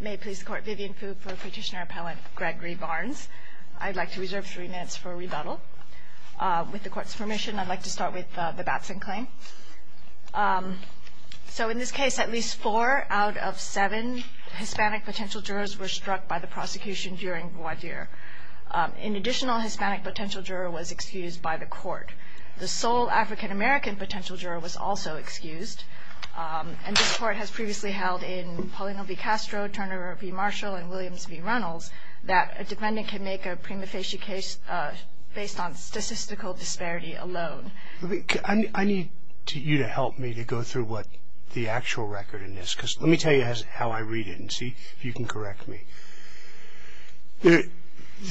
May it please the Court, Vivian Fug for Petitioner Appellant Gregory Barnes. I'd like to reserve three minutes for rebuttal. With the Court's permission, I'd like to start with the Batson claim. In this case, at least four out of seven Hispanic potential jurors were struck by the prosecution during voir dire. An additional Hispanic potential juror was excused by the Court. The sole African-American potential juror was also excused. And this Court has previously held in Paulino v. Castro, Turner v. Marshall, and Williams v. Runnels that a defendant can make a prima facie case based on statistical disparity alone. I need you to help me to go through what the actual record is, because let me tell you how I read it and see if you can correct me.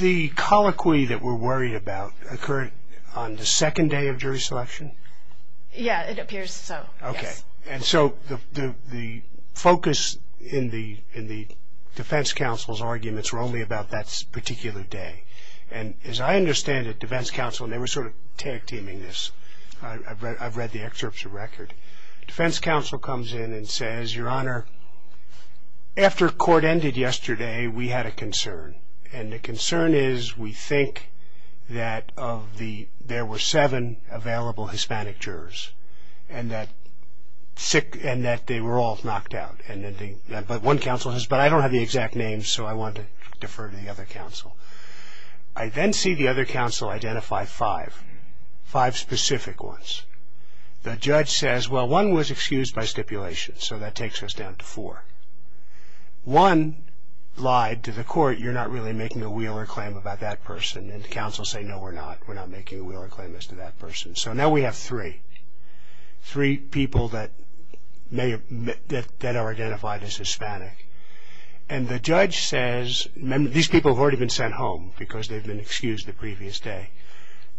The colloquy that we're worried about occurred on the second day of jury selection? Yeah, it appears so. Okay. And so the focus in the defense counsel's arguments were only about that particular day. And as I understand it, defense counsel, and they were sort of tag-teaming this. I've read the excerpt of the record. Defense counsel comes in and says, Your Honor, after court ended yesterday, we had a concern. And the concern is we think that there were seven available Hispanic jurors, and that they were all knocked out. But one counsel says, But I don't have the exact names, so I want to defer to the other counsel. I then see the other counsel identify five, five specific ones. The judge says, Well, one was excused by stipulation, so that takes us down to four. One lied to the court, You're not really making a Wheeler claim about that person. And the counsel said, No, we're not. We're not making a Wheeler claim as to that person. So now we have three, three people that are identified as Hispanic. And the judge says, These people have already been sent home because they've been excused the previous day.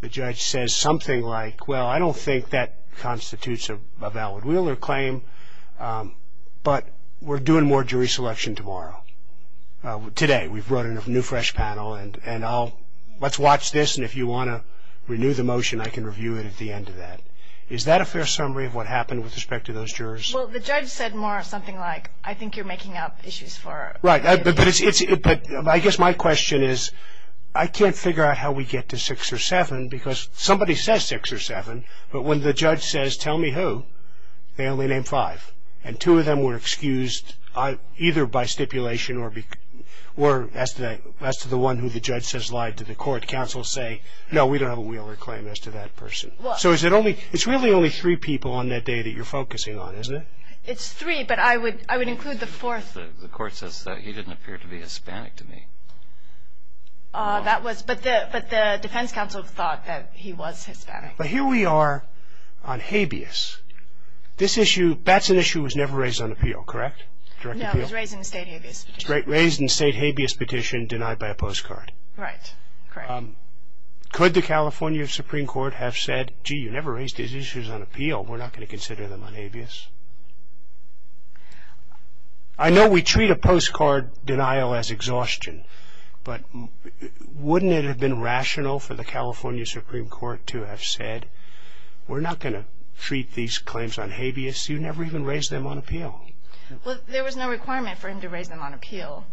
The judge says something like, Well, I don't think that constitutes a valid Wheeler claim, but we're doing more jury selection tomorrow, today. We've brought in a new, fresh panel, and let's watch this, and if you want to renew the motion, I can review it at the end of that. Is that a fair summary of what happened with respect to those jurors? Well, the judge said more something like, I think you're making up issues for us. Right, but I guess my question is, I can't figure out how we get to six or seven, because somebody says six or seven, but when the judge says, Tell me who, they only name five, and two of them were excused either by stipulation or as to the one who the judge says lied to the court. Counsel say, No, we don't have a Wheeler claim as to that person. So it's really only three people on that day that you're focusing on, isn't it? It's three, but I would include the fourth. The court says that he didn't appear to be Hispanic to me. But the defense counsel thought that he was Hispanic. But here we are on habeas. This issue, that's an issue that was never raised on appeal, correct? No, it was raised in the state habeas petition. Raised in the state habeas petition, denied by a postcard. Right, correct. Could the California Supreme Court have said, Gee, you never raised these issues on appeal. We're not going to consider them on habeas. I know we treat a postcard denial as exhaustion, but wouldn't it have been rational for the California Supreme Court to have said, We're not going to treat these claims on habeas. You never even raised them on appeal. Well, there was no requirement for him to raise them on appeal.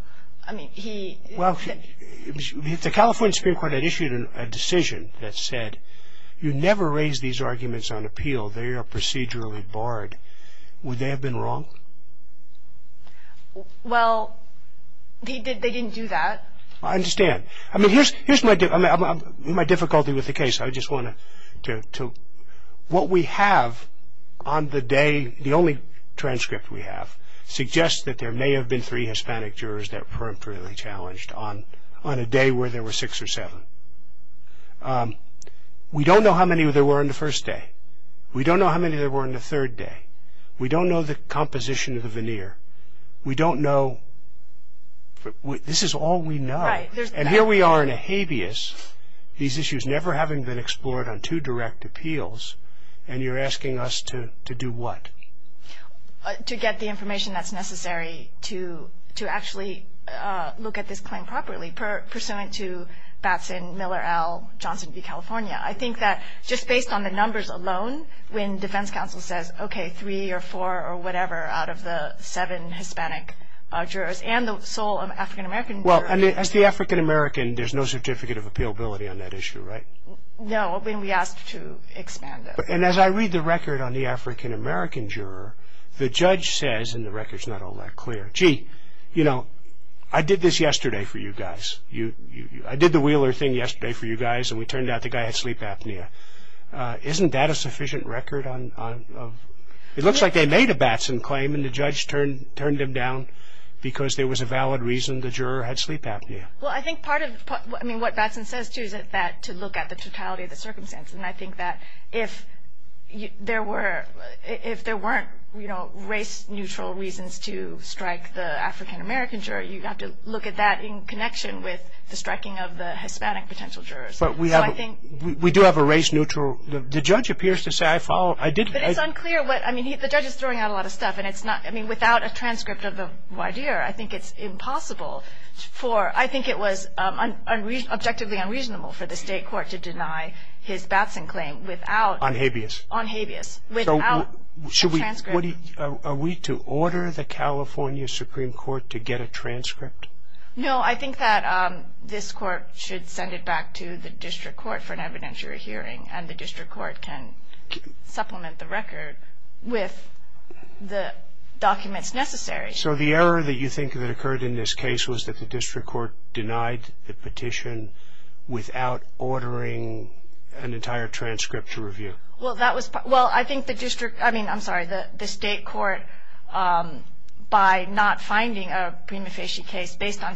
Well, the California Supreme Court had issued a decision that said, You never raise these arguments on appeal. They are procedurally barred. Would they have been wrong? Well, they didn't do that. I understand. I mean, here's my difficulty with the case. I just want to, what we have on the day, the only transcript we have, suggests that there may have been three Hispanic jurors that weren't really challenged on a day where there were six or seven. We don't know how many there were on the first day. We don't know how many there were on the third day. We don't know the composition of the veneer. We don't know. This is all we know. And here we are in a habeas, these issues never having been explored on two direct appeals, and you're asking us to do what? To get the information that's necessary to actually look at this claim properly, pursuant to Batson, Miller, Al, Johnson v. California. I think that just based on the numbers alone, when defense counsel says, okay, three or four or whatever out of the seven Hispanic jurors and the sole African-American juror. Well, as the African-American, there's no certificate of appealability on that issue, right? No, when we asked to expand it. And as I read the record on the African-American juror, the judge says, and the record's not all that clear, gee, you know, I did this yesterday for you guys. I did the Wheeler thing yesterday for you guys, and we turned out the guy had sleep apnea. Isn't that a sufficient record? It looks like they made a Batson claim, and the judge turned him down because there was a valid reason the juror had sleep apnea. Well, I think part of what Batson says, too, is to look at the totality of the circumstance. And I think that if there weren't race-neutral reasons to strike the African-American juror, you'd have to look at that in connection with the striking of the Hispanic potential jurors. But we do have a race-neutral. The judge appears to say, I followed. But it's unclear. I mean, the judge is throwing out a lot of stuff. I mean, without a transcript of the WIDEAR, I think it's impossible for, I think it was objectively unreasonable for the state court to deny his Batson claim without. On habeas. On habeas, without a transcript. Are we to order the California Supreme Court to get a transcript? No, I think that this court should send it back to the district court for an evidentiary hearing, and the district court can supplement the record with the documents necessary. So the error that you think that occurred in this case was that the district court denied the petition without ordering an entire transcript to review? Well, I think the district, I mean, I'm sorry, the state court, by not finding a prima facie case based on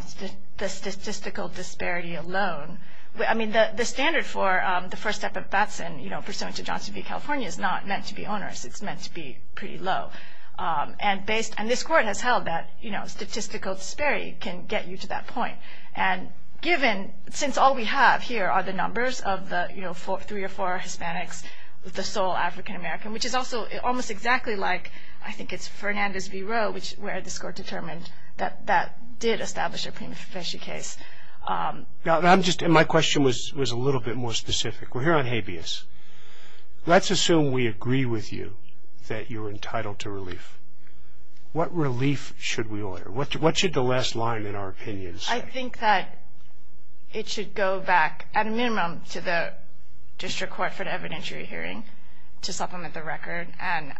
the statistical disparity alone, I mean, the standard for the first step of Batson, you know, pursuant to Johnson v. California is not meant to be onerous. It's meant to be pretty low. And based, and this court has held that, you know, statistical disparity can get you to that point. And given, since all we have here are the numbers of the, you know, three or four Hispanics, the sole African-American, which is also almost exactly like, I think it's Fernandez v. Roe, where this court determined that that did establish a prima facie case. Now, I'm just, and my question was a little bit more specific. We're here on habeas. Let's assume we agree with you that you're entitled to relief. What relief should we order? What should the last line in our opinion say? I think that it should go back, at a minimum, to the district court for an evidentiary hearing to supplement the record, and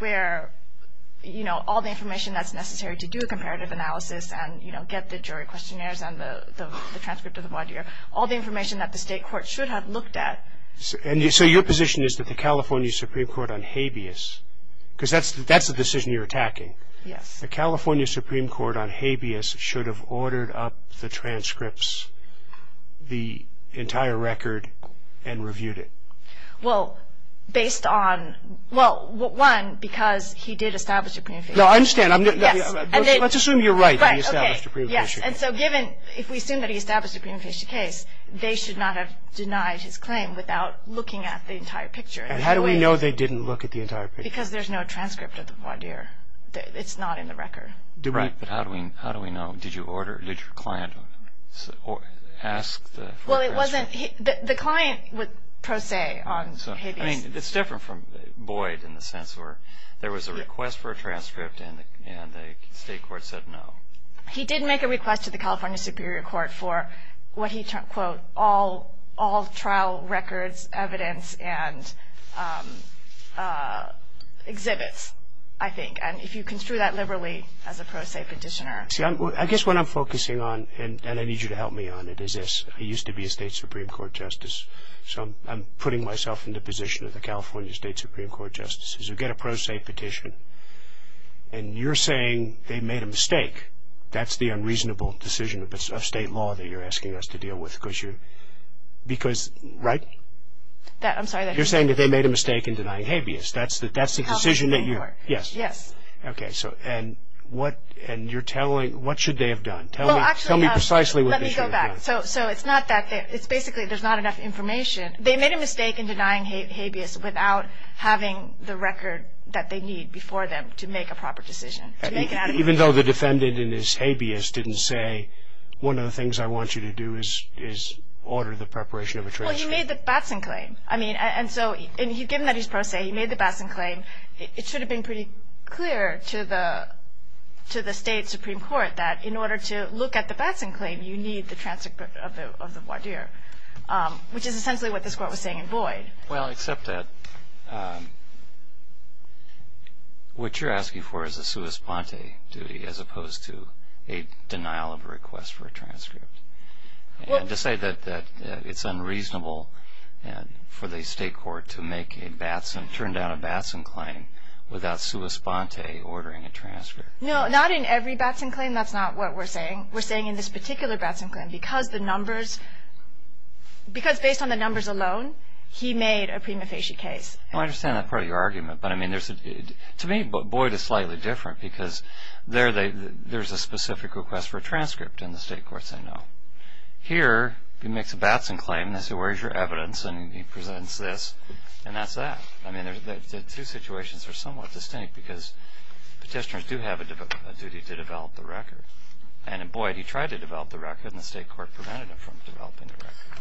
where, you know, all the information that's necessary to do a comparative analysis and, you know, get the jury questionnaires and the transcript of the body, all the information that the state court should have looked at. So your position is that the California Supreme Court on habeas, because that's the decision you're attacking. Yes. The California Supreme Court on habeas should have ordered up the transcripts, the entire record, and reviewed it. Well, based on, well, one, because he did establish a prima facie case. No, I understand. Yes. Let's assume you're right that he established a prima facie case. Yes, and so given, if we assume that he established a prima facie case, they should not have denied his claim without looking at the entire picture. And how do we know they didn't look at the entire picture? Because there's no transcript of the voir dire. It's not in the record. Right, but how do we know? Did you order, did your client ask for a transcript? Well, it wasn't, the client would pro se on habeas. I mean, it's different from Boyd in the sense where there was a request for a transcript and the state court said no. He did make a request to the California Superior Court for what he, quote, all trial records, evidence, and exhibits, I think, and if you construe that liberally as a pro se petitioner. See, I guess what I'm focusing on, and I need you to help me on it, is this. I used to be a state Supreme Court justice, so I'm putting myself in the position of the California State Supreme Court justices who get a pro se petition, and you're saying they made a mistake. That's the unreasonable decision of state law that you're asking us to deal with because you're, because, right? That, I'm sorry. You're saying that they made a mistake in denying habeas. That's the decision that you. California State Supreme Court. Yes. Yes. Okay, so, and what, and you're telling, what should they have done? Well, actually. Tell me precisely what they should have done. Let me go back. So, it's not that, it's basically there's not enough information. They made a mistake in denying habeas without having the record that they need before them to make a proper decision. Even though the defendant in his habeas didn't say, one of the things I want you to do is order the preparation of a transcript. Well, he made the Batson claim. I mean, and so, and given that he's pro se, he made the Batson claim, it should have been pretty clear to the state Supreme Court that in order to look at the Batson claim, you need the transcript of the voir dire, which is essentially what this Court was saying in Boyd. Well, except that what you're asking for is a sua sponte duty as opposed to a denial of request for a transcript. Well. And to say that it's unreasonable for the state court to make a Batson, turn down a Batson claim without sua sponte ordering a transcript. No, not in every Batson claim. That's not what we're saying. We're saying in this particular Batson claim, because the numbers, because based on the numbers alone, he made a prima facie case. I understand that part of your argument, but I mean, to me, Boyd is slightly different, because there's a specific request for a transcript, and the state courts say no. Here, he makes a Batson claim, and they say, where's your evidence? And he presents this, and that's that. I mean, the two situations are somewhat distinct, because petitioners do have a duty to develop the record. And in Boyd, he tried to develop the record, and the state court prevented him from developing the record.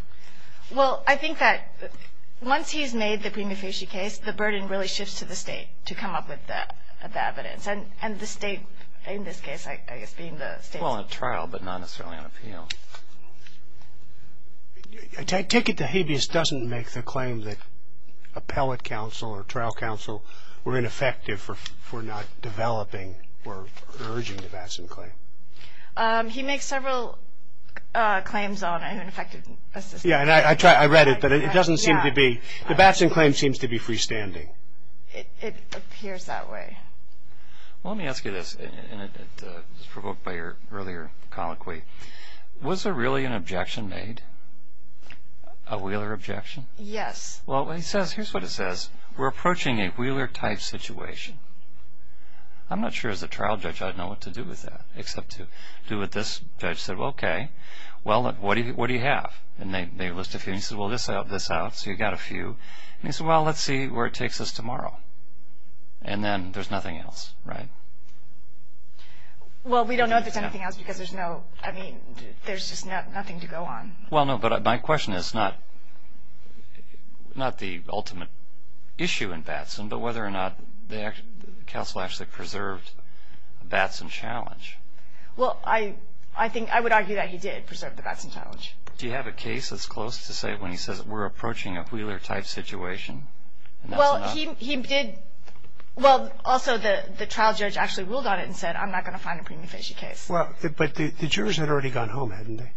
Well, I think that once he's made the prima facie case, the burden really shifts to the state to come up with the evidence. And the state, in this case, I guess, being the state. Well, in a trial, but not necessarily on appeal. A ticket to habeas doesn't make the claim that appellate counsel or trial counsel were ineffective for not developing or urging the Batson claim. He makes several claims on ineffective assistance. Yeah, and I read it, but it doesn't seem to be. The Batson claim seems to be freestanding. It appears that way. Well, let me ask you this, and it was provoked by your earlier colloquy. Was there really an objection made? A Wheeler objection? Yes. Well, here's what it says. We're approaching a Wheeler-type situation. I'm not sure as a trial judge I'd know what to do with that, except to do what this judge said. Well, okay. Well, what do you have? And they list a few, and he says, well, this out, this out, so you've got a few. And he said, well, let's see where it takes us tomorrow. And then there's nothing else, right? Well, we don't know if there's anything else because there's no, I mean, there's just nothing to go on. Well, no, but my question is not the ultimate issue in Batson, but whether or not the counsel actually preserved the Batson challenge. Well, I think I would argue that he did preserve the Batson challenge. Do you have a case that's close to say when he says we're approaching a Wheeler-type situation? Well, he did, well, also the trial judge actually ruled on it and said, I'm not going to find a premium-featured case. Well, but the jurors had already gone home, hadn't they?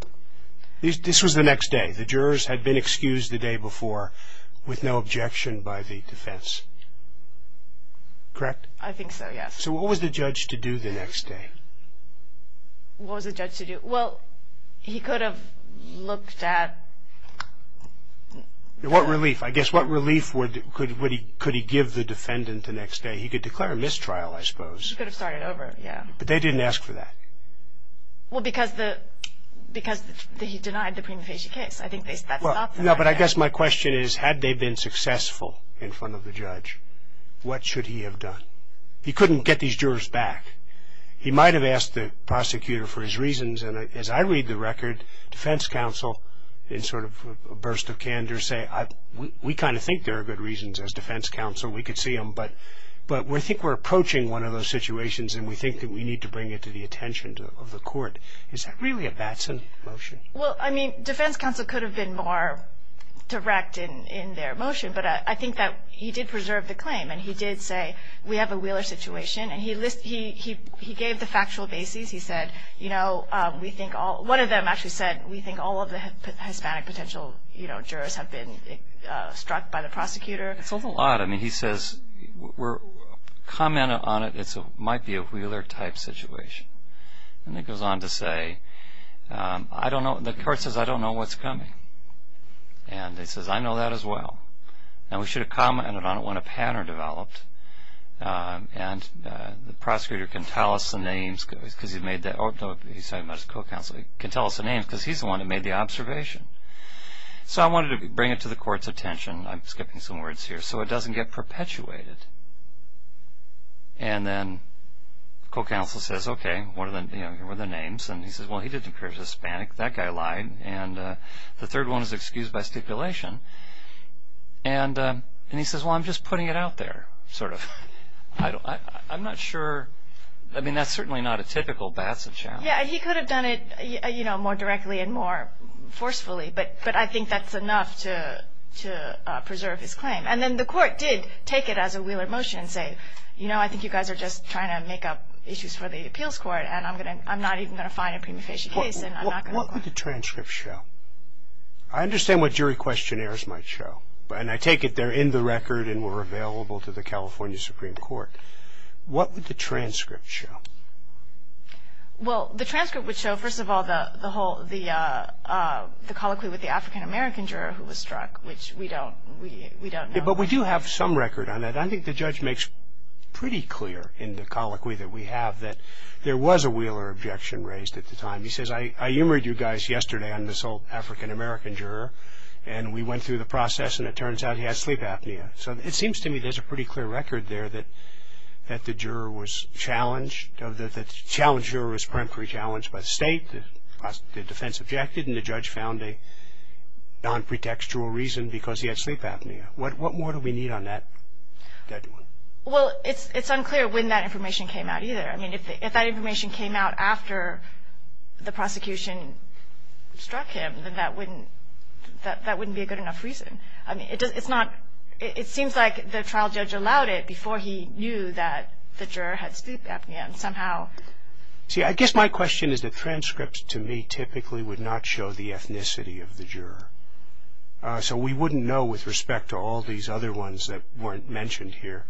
This was the next day. The jurors had been excused the day before with no objection by the defense, correct? I think so, yes. So what was the judge to do the next day? What was the judge to do? Well, he could have looked at. What relief? I guess what relief could he give the defendant the next day? He could declare a mistrial, I suppose. He could have started over, yes. But they didn't ask for that. Well, because he denied the premium-featured case. I think that stopped them. No, but I guess my question is had they been successful in front of the judge, what should he have done? He couldn't get these jurors back. He might have asked the prosecutor for his reasons, and as I read the record, defense counsel in sort of a burst of candor say, we kind of think there are good reasons as defense counsel. We could see them. But we think we're approaching one of those situations, and we think that we need to bring it to the attention of the court. Is that really a Batson motion? Well, I mean, defense counsel could have been more direct in their motion, but I think that he did preserve the claim, and he did say we have a Wheeler situation, and he gave the factual basis. He said, you know, we think all of the Hispanic potential jurors have been struck by the prosecutor. It's a lot. I mean, he says we're commenting on it. It might be a Wheeler-type situation. And he goes on to say, I don't know. The court says, I don't know what's coming. And he says, I know that as well. Now, we should have commented on it when a pattern developed, and the prosecutor can tell us the names because he's the one who made the observation. So I wanted to bring it to the court's attention. I'm skipping some words here so it doesn't get perpetuated. And then the co-counsel says, okay, what are the names? And he says, well, he didn't prove Hispanic. That guy lied. And the third one is excused by stipulation. And he says, well, I'm just putting it out there sort of. I'm not sure. I mean, that's certainly not a typical Batson challenge. Yeah, he could have done it, you know, more directly and more forcefully, but I think that's enough to preserve his claim. And then the court did take it as a Wheeler motion and say, you know, I think you guys are just trying to make up issues for the appeals court, and I'm not even going to find a prima facie case. What would the transcript show? I understand what jury questionnaires might show, and I take it they're in the record and were available to the California Supreme Court. What would the transcript show? Well, the transcript would show, first of all, the colloquy with the African-American juror who was struck, which we don't know. But we do have some record on that. I think the judge makes pretty clear in the colloquy that we have that there was a Wheeler objection raised at the time. He says, I humored you guys yesterday on this old African-American juror, and we went through the process, and it turns out he had sleep apnea. So it seems to me there's a pretty clear record there that the juror was challenged, that the challenged juror was preemptively challenged by the state, the defense objected, and the judge found a non-pretextual reason because he had sleep apnea. What more do we need on that one? Well, it's unclear when that information came out either. I mean, if that information came out after the prosecution struck him, then that wouldn't be a good enough reason. I mean, it seems like the trial judge allowed it before he knew that the juror had sleep apnea. See, I guess my question is that transcripts, to me, typically would not show the ethnicity of the juror. So we wouldn't know with respect to all these other ones that weren't mentioned here,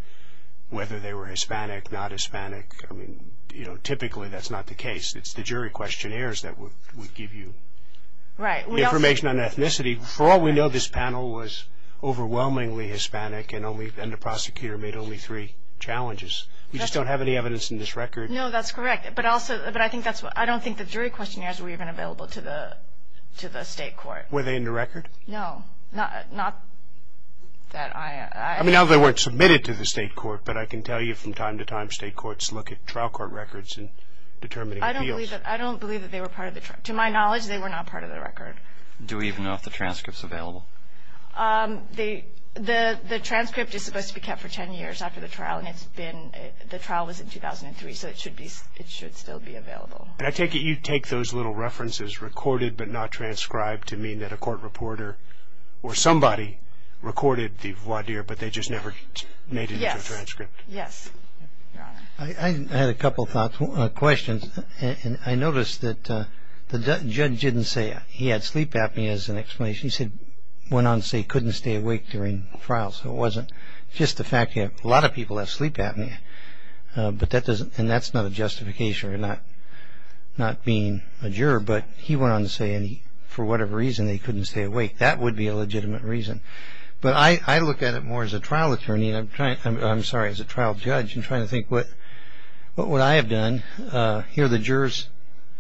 whether they were Hispanic, not Hispanic. I mean, you know, typically that's not the case. It's the jury questionnaires that would give you information on ethnicity. For all we know, this panel was overwhelmingly Hispanic, and the prosecutor made only three challenges. We just don't have any evidence in this record. No, that's correct. But I don't think the jury questionnaires were even available to the state court. Were they in the record? No. I mean, now they weren't submitted to the state court, but I can tell you from time to time state courts look at trial court records and determine appeals. I don't believe that they were part of the trial. To my knowledge, they were not part of the record. Do we even know if the transcript's available? The transcript is supposed to be kept for ten years after the trial, and the trial was in 2003, so it should still be available. I take it you take those little references, recorded but not transcribed, to mean that a court reporter or somebody recorded the voir dire, but they just never made it into a transcript. Yes. I had a couple of questions. I noticed that the judge didn't say he had sleep apnea as an explanation. He went on to say he couldn't stay awake during the trial, so it wasn't just the fact that a lot of people have sleep apnea, and that's not a justification for not being a juror, but he went on to say for whatever reason they couldn't stay awake. That would be a legitimate reason. But I look at it more as a trial judge and try to think what would I have done if the jurors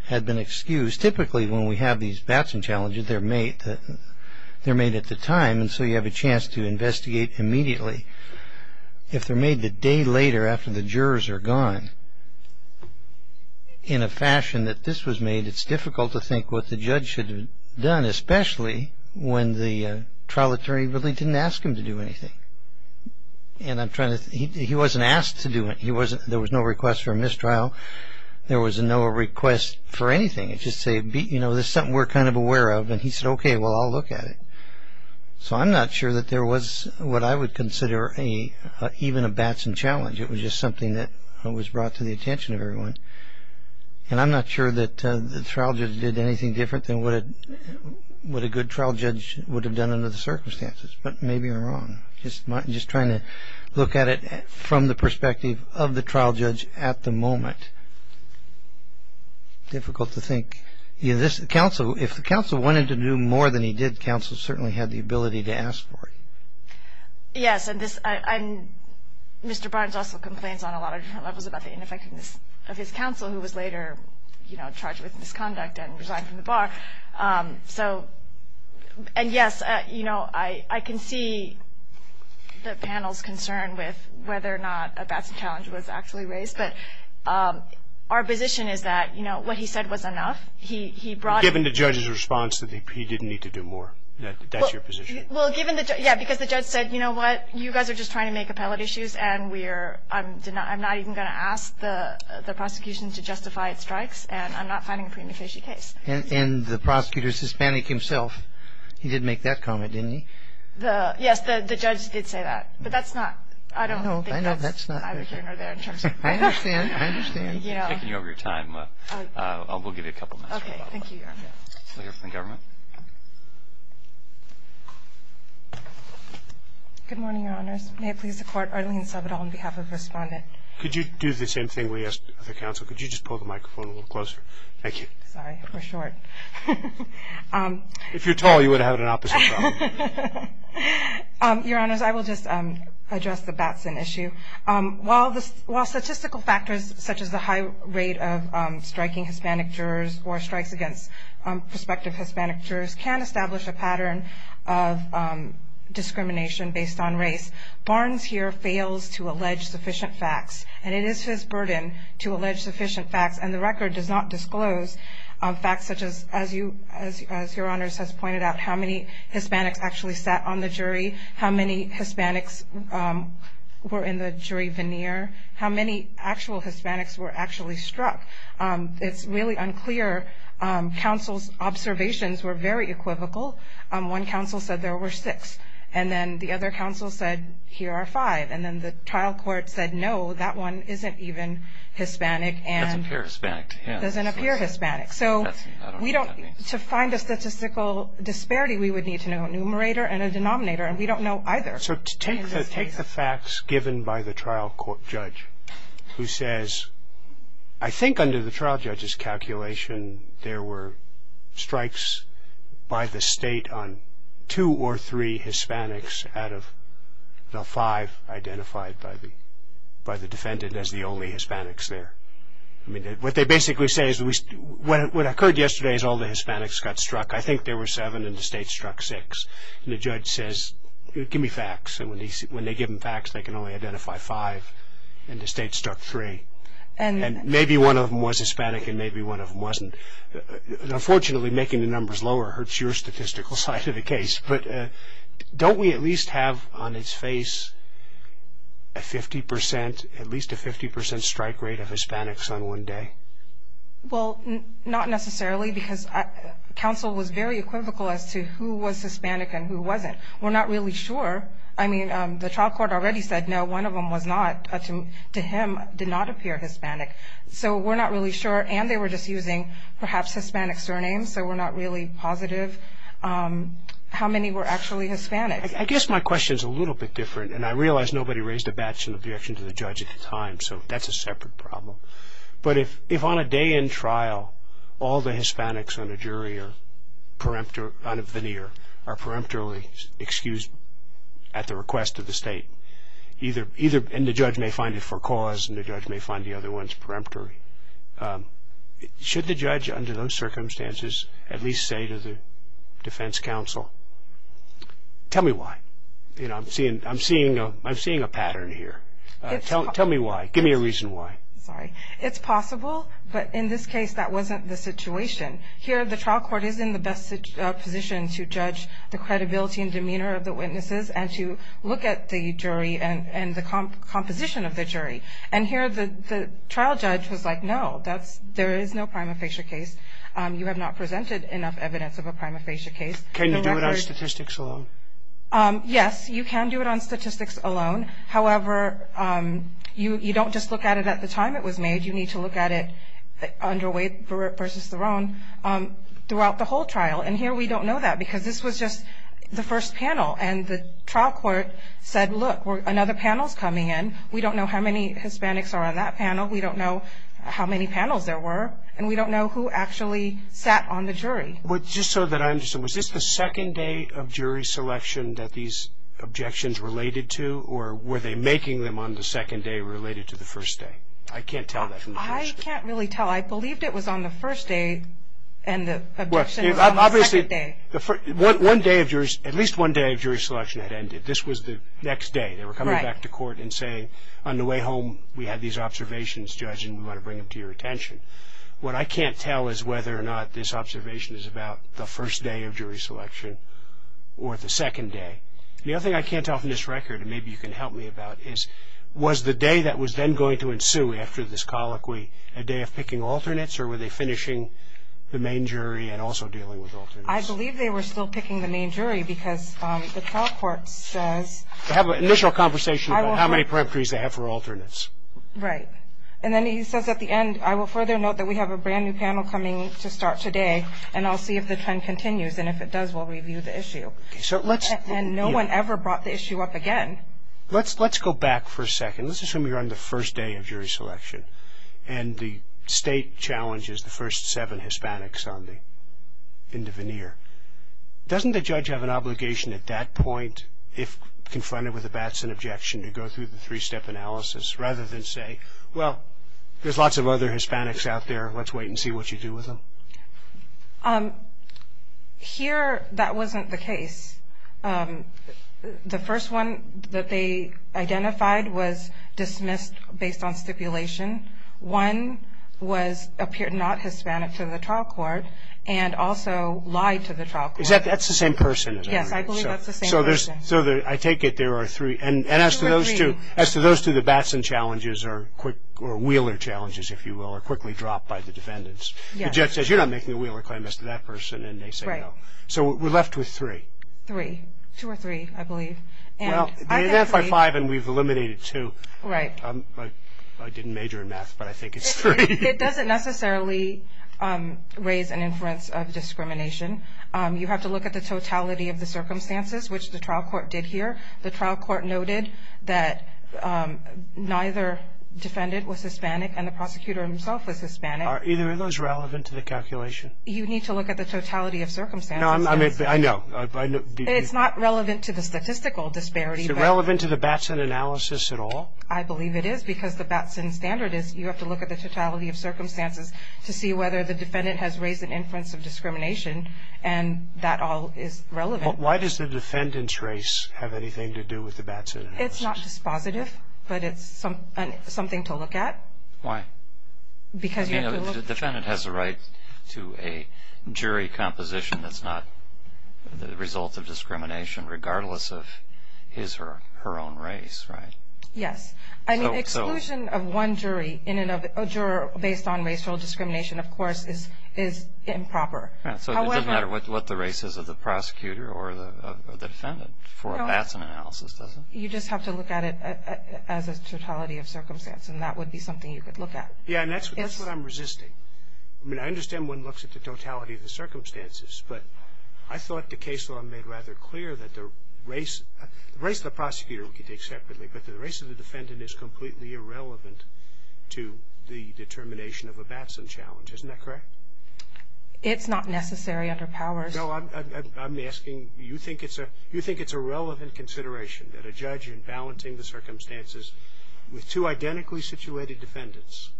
had been excused. Typically, when we have these Batson challenges, they're made at the time, and so you have a chance to investigate immediately. If they're made the day later after the jurors are gone, in a fashion that this was made, it's difficult to think what the judge should have done, especially when the trial attorney really didn't ask him to do anything. He wasn't asked to do it. There was no request for a mistrial. There was no request for anything. It's just something we're kind of aware of, and he said, okay, well, I'll look at it. So I'm not sure that there was what I would consider even a Batson challenge. It was just something that was brought to the attention of everyone, and I'm not sure that the trial judge did anything different than what a good trial judge would have done under the circumstances, but maybe I'm wrong. I'm just trying to look at it from the perspective of the trial judge at the moment. Difficult to think. If the counsel wanted to do more than he did, the counsel certainly had the ability to ask for it. Yes, and Mr. Barnes also complains on a lot of different levels about the ineffectiveness of his counsel, who was later charged with misconduct and resigned from the bar. And, yes, I can see the panel's concern with whether or not a Batson challenge was actually raised, but our position is that what he said was enough. Given the judge's response that he didn't need to do more, that's your position? Well, yeah, because the judge said, you know what? You guys are just trying to make appellate issues, and I'm not even going to ask the prosecution to justify its strikes, and I'm not finding a premeditation case. And the prosecutor's Hispanic himself, he did make that comment, didn't he? Yes, the judge did say that, but that's not, I don't think that's my opinion. I understand, I understand. Thank you for taking over your time. We'll give you a couple minutes. Okay, thank you, Your Honor. We'll hear from the government. Good morning, Your Honors. May it please the Court, Arlene Sovedal on behalf of Respondent. Could you do the same thing we asked of the counsel? Could you just pull the microphone a little closer? Thank you. Sorry, we're short. If you're tall, you would have had an opposite problem. Your Honors, I will just address the Batson issue. While statistical factors such as the high rate of striking Hispanic jurors or strikes against prospective Hispanic jurors can establish a pattern of discrimination based on race, Barnes here fails to allege sufficient facts, and it is his burden to allege sufficient facts, and the record does not disclose facts such as, as Your Honors has pointed out, how many Hispanics actually sat on the jury, how many Hispanics were in the jury veneer, how many actual Hispanics were actually struck. It's really unclear. Counsel's observations were very equivocal. One counsel said there were six, and then the other counsel said here are five, and then the trial court said, no, that one isn't even Hispanic. It doesn't appear Hispanic to him. It doesn't appear Hispanic. So to find a statistical disparity, we would need to know a numerator and a denominator, and we don't know either. So take the facts given by the trial court judge who says, I think under the trial judge's calculation, there were strikes by the state on two or three Hispanics out of the five identified by the defendant as the only Hispanics there. What they basically say is what occurred yesterday is all the Hispanics got struck. I think there were seven, and the state struck six. And the judge says, give me facts. And when they give him facts, they can only identify five, and the state struck three. And maybe one of them was Hispanic and maybe one of them wasn't. Unfortunately, making the numbers lower hurts your statistical side of the case. But don't we at least have on its face a 50 percent, at least a 50 percent strike rate of Hispanics on one day? Well, not necessarily because counsel was very equivocal as to who was Hispanic and who wasn't. We're not really sure. I mean, the trial court already said no, one of them was not. To him, did not appear Hispanic. So we're not really sure, and they were just using perhaps Hispanic surnames, so we're not really positive how many were actually Hispanic. I guess my question is a little bit different, and I realize nobody raised a badge in the direction of the judge at the time, so that's a separate problem. But if on a day in trial all the Hispanics on a veneer are peremptorily excused at the request of the state, and the judge may find it for cause and the judge may find the other ones peremptory, should the judge under those circumstances at least say to the defense counsel, tell me why? I'm seeing a pattern here. Tell me why. Give me a reason why. Sorry. It's possible, but in this case that wasn't the situation. Here the trial court is in the best position to judge the credibility and demeanor of the witnesses and to look at the jury and the composition of the jury. And here the trial judge was like, no, there is no prima facie case. You have not presented enough evidence of a prima facie case. Can you do it on statistics alone? Yes, you can do it on statistics alone. However, you don't just look at it at the time it was made. You need to look at it underway versus their own throughout the whole trial. And here we don't know that because this was just the first panel, and the trial court said, look, another panel is coming in. We don't know how many Hispanics are on that panel. We don't know how many panels there were, and we don't know who actually sat on the jury. Just so that I understand, was this the second day of jury selection that these objections related to, or were they making them on the second day related to the first day? I can't tell that from the first day. I can't really tell. I believed it was on the first day, and the objection was on the second day. Obviously, at least one day of jury selection had ended. This was the next day. They were coming back to court and saying, on the way home, we had these observations, Judge, and we want to bring them to your attention. What I can't tell is whether or not this observation is about the first day of jury selection or the second day. The other thing I can't tell from this record, and maybe you can help me about, is was the day that was then going to ensue after this colloquy a day of picking alternates, or were they finishing the main jury and also dealing with alternates? I believe they were still picking the main jury because the trial court says – To have an initial conversation about how many preemptories they have for alternates. Right. And then he says at the end, I will further note that we have a brand new panel coming to start today, and I'll see if the trend continues, and if it does, we'll review the issue. And no one ever brought the issue up again. Let's go back for a second. Let's assume you're on the first day of jury selection, and the state challenges the first seven Hispanics in the veneer. Doesn't the judge have an obligation at that point, if confronted with a Batson objection, to go through the three-step analysis rather than say, well, there's lots of other Hispanics out there, let's wait and see what you do with them? Here that wasn't the case. The first one that they identified was dismissed based on stipulation. One was appeared not Hispanic to the trial court and also lied to the trial court. That's the same person. Yes, I believe that's the same person. So I take it there are three. And as to those two, the Batson challenges or Wheeler challenges, if you will, are quickly dropped by the defendants. The judge says, you're not making a Wheeler claim as to that person, and they say no. So we're left with three. Three, two or three, I believe. Well, they identified five, and we've eliminated two. I didn't major in math, but I think it's three. It doesn't necessarily raise an inference of discrimination. You have to look at the totality of the circumstances, which the trial court did here. The trial court noted that neither defendant was Hispanic and the prosecutor himself was Hispanic. Are either of those relevant to the calculation? You need to look at the totality of circumstances. No, I know. It's not relevant to the statistical disparity. Is it relevant to the Batson analysis at all? I believe it is because the Batson standard is you have to look at the totality of circumstances to see whether the defendant has raised an inference of discrimination, and that all is relevant. Why does the defendant's race have anything to do with the Batson analysis? It's not dispositive, but it's something to look at. Why? Because you have to look. The defendant has a right to a jury composition that's not the result of discrimination, regardless of his or her own race, right? Yes. An exclusion of one jury based on racial discrimination, of course, is improper. So it doesn't matter what the race is of the prosecutor or the defendant for a Batson analysis, does it? You just have to look at it as a totality of circumstance, and that would be something you could look at. Yes, and that's what I'm resisting. I mean, I understand one looks at the totality of the circumstances, but I thought the case law made rather clear that the race of the prosecutor we could take separately, but the race of the defendant is completely irrelevant to the determination of a Batson challenge. Isn't that correct? It's not necessary under powers. No, I'm asking, you think it's a relevant consideration that a judge in balancing the circumstances with two identically situated defendants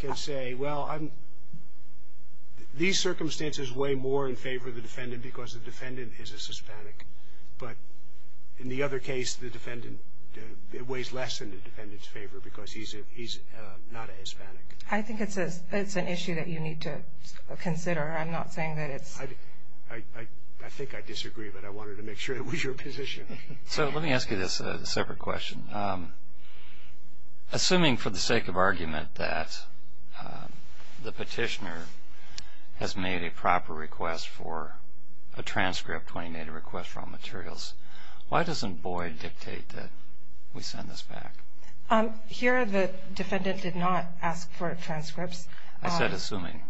can say, well, these circumstances weigh more in favor of the defendant because the defendant is a Hispanic, but in the other case, it weighs less in the defendant's favor because he's not a Hispanic. I think it's an issue that you need to consider. I'm not saying that it's – I think I disagree, but I wanted to make sure it was your position. So let me ask you this separate question. Assuming for the sake of argument that the petitioner has made a proper request for a transcript when he made a request for all materials, why doesn't Boyd dictate that we send this back? Here the defendant did not ask for transcripts. I said assuming.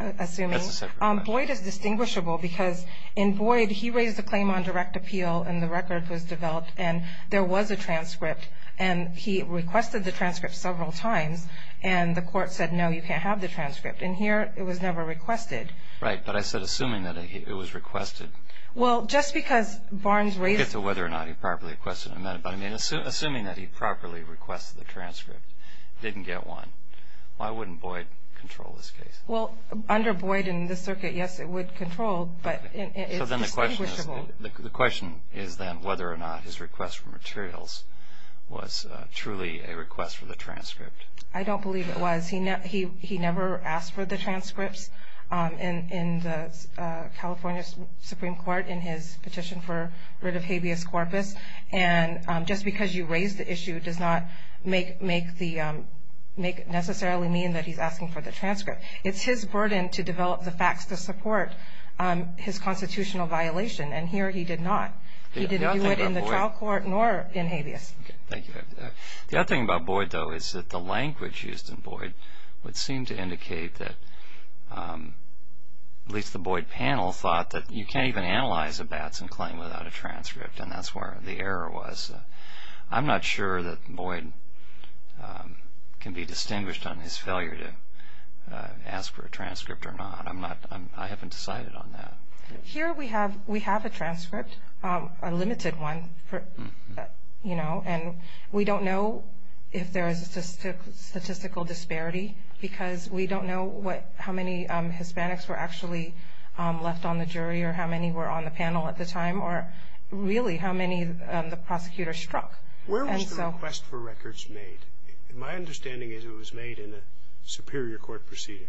Assuming. That's a separate question. Boyd is distinguishable because in Boyd he raised a claim on direct appeal and the record was developed and there was a transcript and he requested the transcript several times and the court said, no, you can't have the transcript, and here it was never requested. Right, but I said assuming that it was requested. Well, just because Barnes raised – We'll get to whether or not he properly requested an amendment, but I mean assuming that he properly requested the transcript, didn't get one, why wouldn't Boyd control this case? Well, under Boyd in this circuit, yes, it would control, but it's distinguishable. The question is then whether or not his request for materials was truly a request for the transcript. I don't believe it was. He never asked for the transcripts in the California Supreme Court in his petition for writ of habeas corpus, and just because you raised the issue does not necessarily mean that he's asking for the transcript. It's his burden to develop the facts to support his constitutional violation, and here he did not. He didn't do it in the trial court nor in habeas. Okay, thank you. The other thing about Boyd, though, is that the language used in Boyd would seem to indicate that, at least the Boyd panel thought that you can't even analyze a Batson claim without a transcript, and that's where the error was. I'm not sure that Boyd can be distinguished on his failure to ask for a transcript or not. I haven't decided on that. Here we have a transcript, a limited one, and we don't know if there is a statistical disparity because we don't know how many Hispanics were actually left on the jury or how many were on the panel at the time or really how many the prosecutor struck. Where was the request for records made? My understanding is it was made in a superior court proceeding.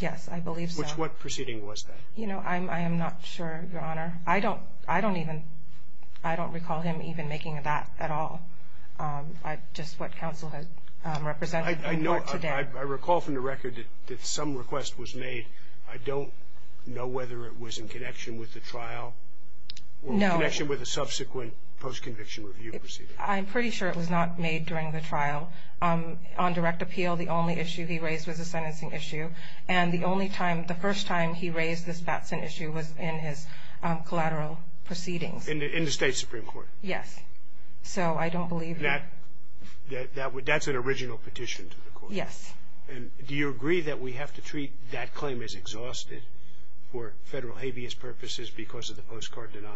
Yes, I believe so. Which what proceeding was that? You know, I am not sure, Your Honor. I don't recall him even making that at all, just what counsel has represented in court today. I recall from the record that some request was made. I don't know whether it was in connection with the trial. No. Or in connection with a subsequent post-conviction review proceeding. I'm pretty sure it was not made during the trial. On direct appeal, the only issue he raised was a sentencing issue, and the only time, the first time he raised this Batson issue was in his collateral proceedings. In the state supreme court? Yes. So I don't believe that. That's an original petition to the court? Yes. And do you agree that we have to treat that claim as exhausted for federal habeas purposes because of the postcard denial?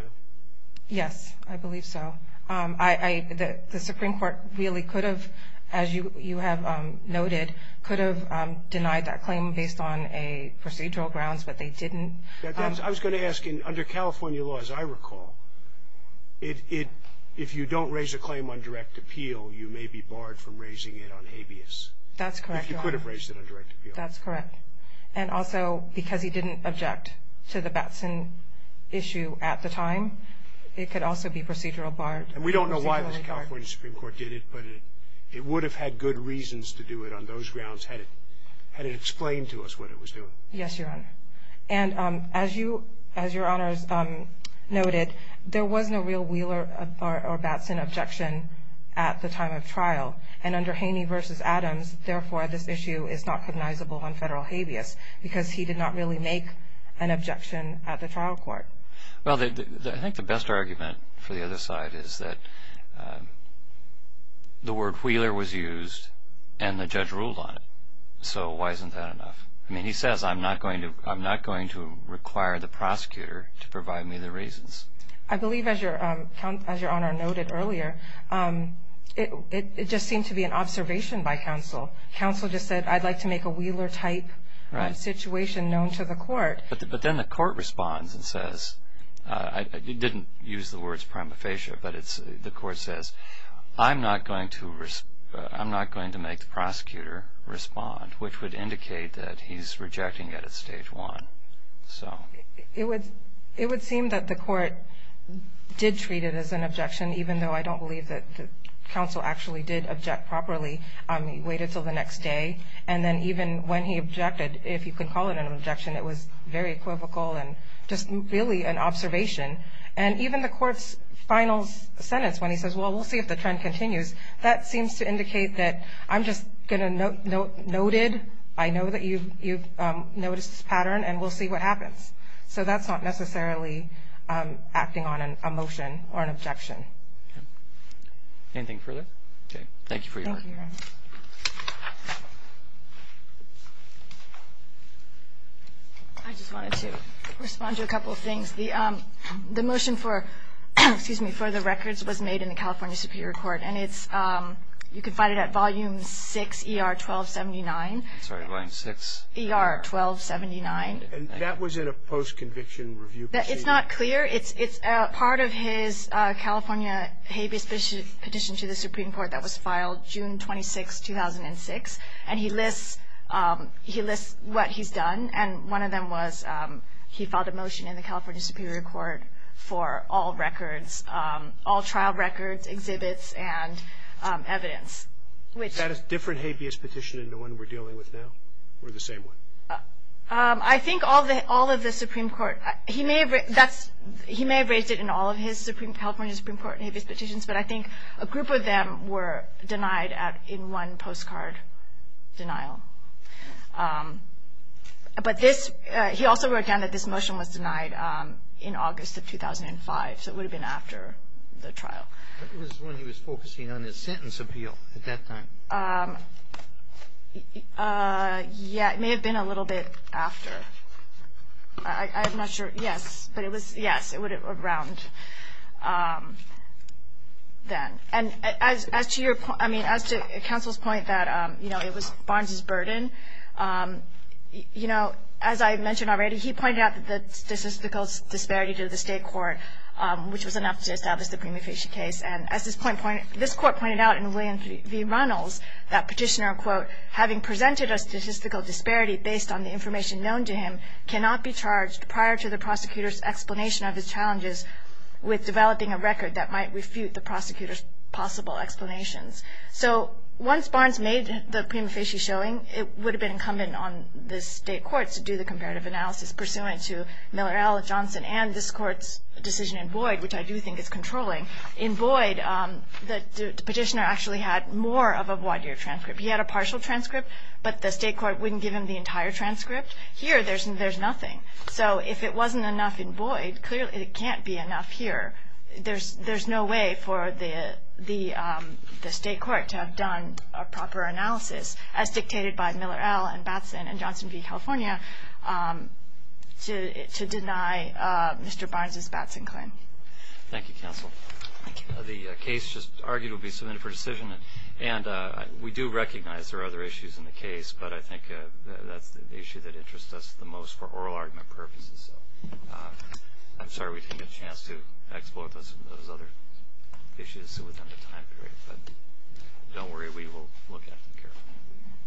Yes, I believe so. The supreme court really could have, as you have noted, could have denied that claim based on procedural grounds, but they didn't. I was going to ask, under California law, as I recall, if you don't raise a claim on direct appeal, you may be barred from raising it on habeas. That's correct, Your Honor. If you could have raised it on direct appeal. That's correct. And also, because he didn't object to the Batson issue at the time, it could also be procedural barred. And we don't know why the California supreme court did it, but it would have had good reasons to do it on those grounds had it explained to us what it was doing. Yes, Your Honor. And as Your Honors noted, there was no real Wheeler or Batson objection at the time of trial, and under Haney v. Adams, therefore, this issue is not cognizable on federal habeas because he did not really make an objection at the trial court. Well, I think the best argument for the other side is that the word Wheeler was used and the judge ruled on it. So why isn't that enough? I mean, he says, I'm not going to require the prosecutor to provide me the reasons. I believe, as Your Honor noted earlier, it just seemed to be an observation by counsel. Counsel just said, I'd like to make a Wheeler-type situation known to the court. But then the court responds and says, it didn't use the words prima facie, but the court says, I'm not going to make the prosecutor respond, which would indicate that he's rejecting it at stage one. It would seem that the court did treat it as an objection, even though I don't believe that counsel actually did object properly. He waited until the next day, and then even when he objected, if you can call it an objection, it was very equivocal and just really an observation. And even the court's final sentence, when he says, well, we'll see if the trend continues, that seems to indicate that I'm just going to note noted, I know that you've noticed this pattern and we'll see what happens. So that's not necessarily acting on a motion or an objection. Anything further? Okay. Thank you for your work. Thank you, Your Honor. I just wanted to respond to a couple of things. The motion for the records was made in the California Superior Court, and you can find it at Volume 6, ER 1279. I'm sorry, Volume 6? ER 1279. And that was in a post-conviction review procedure? It's not clear. It's part of his California habeas petition to the Supreme Court that was filed June 26, 2006, and he lists what he's done. And one of them was he filed a motion in the California Superior Court for all records, all trial records, exhibits, and evidence. Is that a different habeas petition than the one we're dealing with now, or the same one? I think all of the Supreme Court, he may have raised it in all of his California Supreme Court habeas petitions, but I think a group of them were denied in one postcard denial. But he also wrote down that this motion was denied in August of 2005, so it would have been after the trial. It was when he was focusing on his sentence appeal at that time. Yeah, it may have been a little bit after. I'm not sure. Yes, but it was around then. And as to counsel's point that it was Barnes's burden, you know, as I mentioned already, he pointed out the statistical disparity to the state court, which was enough to establish the Prima Facie case. And as this court pointed out in William V. Runnels, that petitioner, quote, having presented a statistical disparity based on the information known to him, cannot be charged prior to the prosecutor's explanation of his challenges with developing a record that might refute the prosecutor's possible explanations. So once Barnes made the Prima Facie showing, it would have been incumbent on the state courts to do the comparative analysis pursuant to Miller, Allen, Johnson, and this court's decision in Boyd, which I do think is controlling. In Boyd, the petitioner actually had more of a wide-year transcript. He had a partial transcript, but the state court wouldn't give him the entire transcript. Here, there's nothing. So if it wasn't enough in Boyd, clearly it can't be enough here. There's no way for the state court to have done a proper analysis, as dictated by Miller, Allen, Batson, and Johnson v. California, to deny Mr. Barnes' Batson claim. Thank you, counsel. Thank you. The case just argued will be submitted for decision. And we do recognize there are other issues in the case, but I think that's the issue that interests us the most for oral argument purposes. I'm sorry we didn't get a chance to explore those other issues within the time period, but don't worry, we will look at them carefully.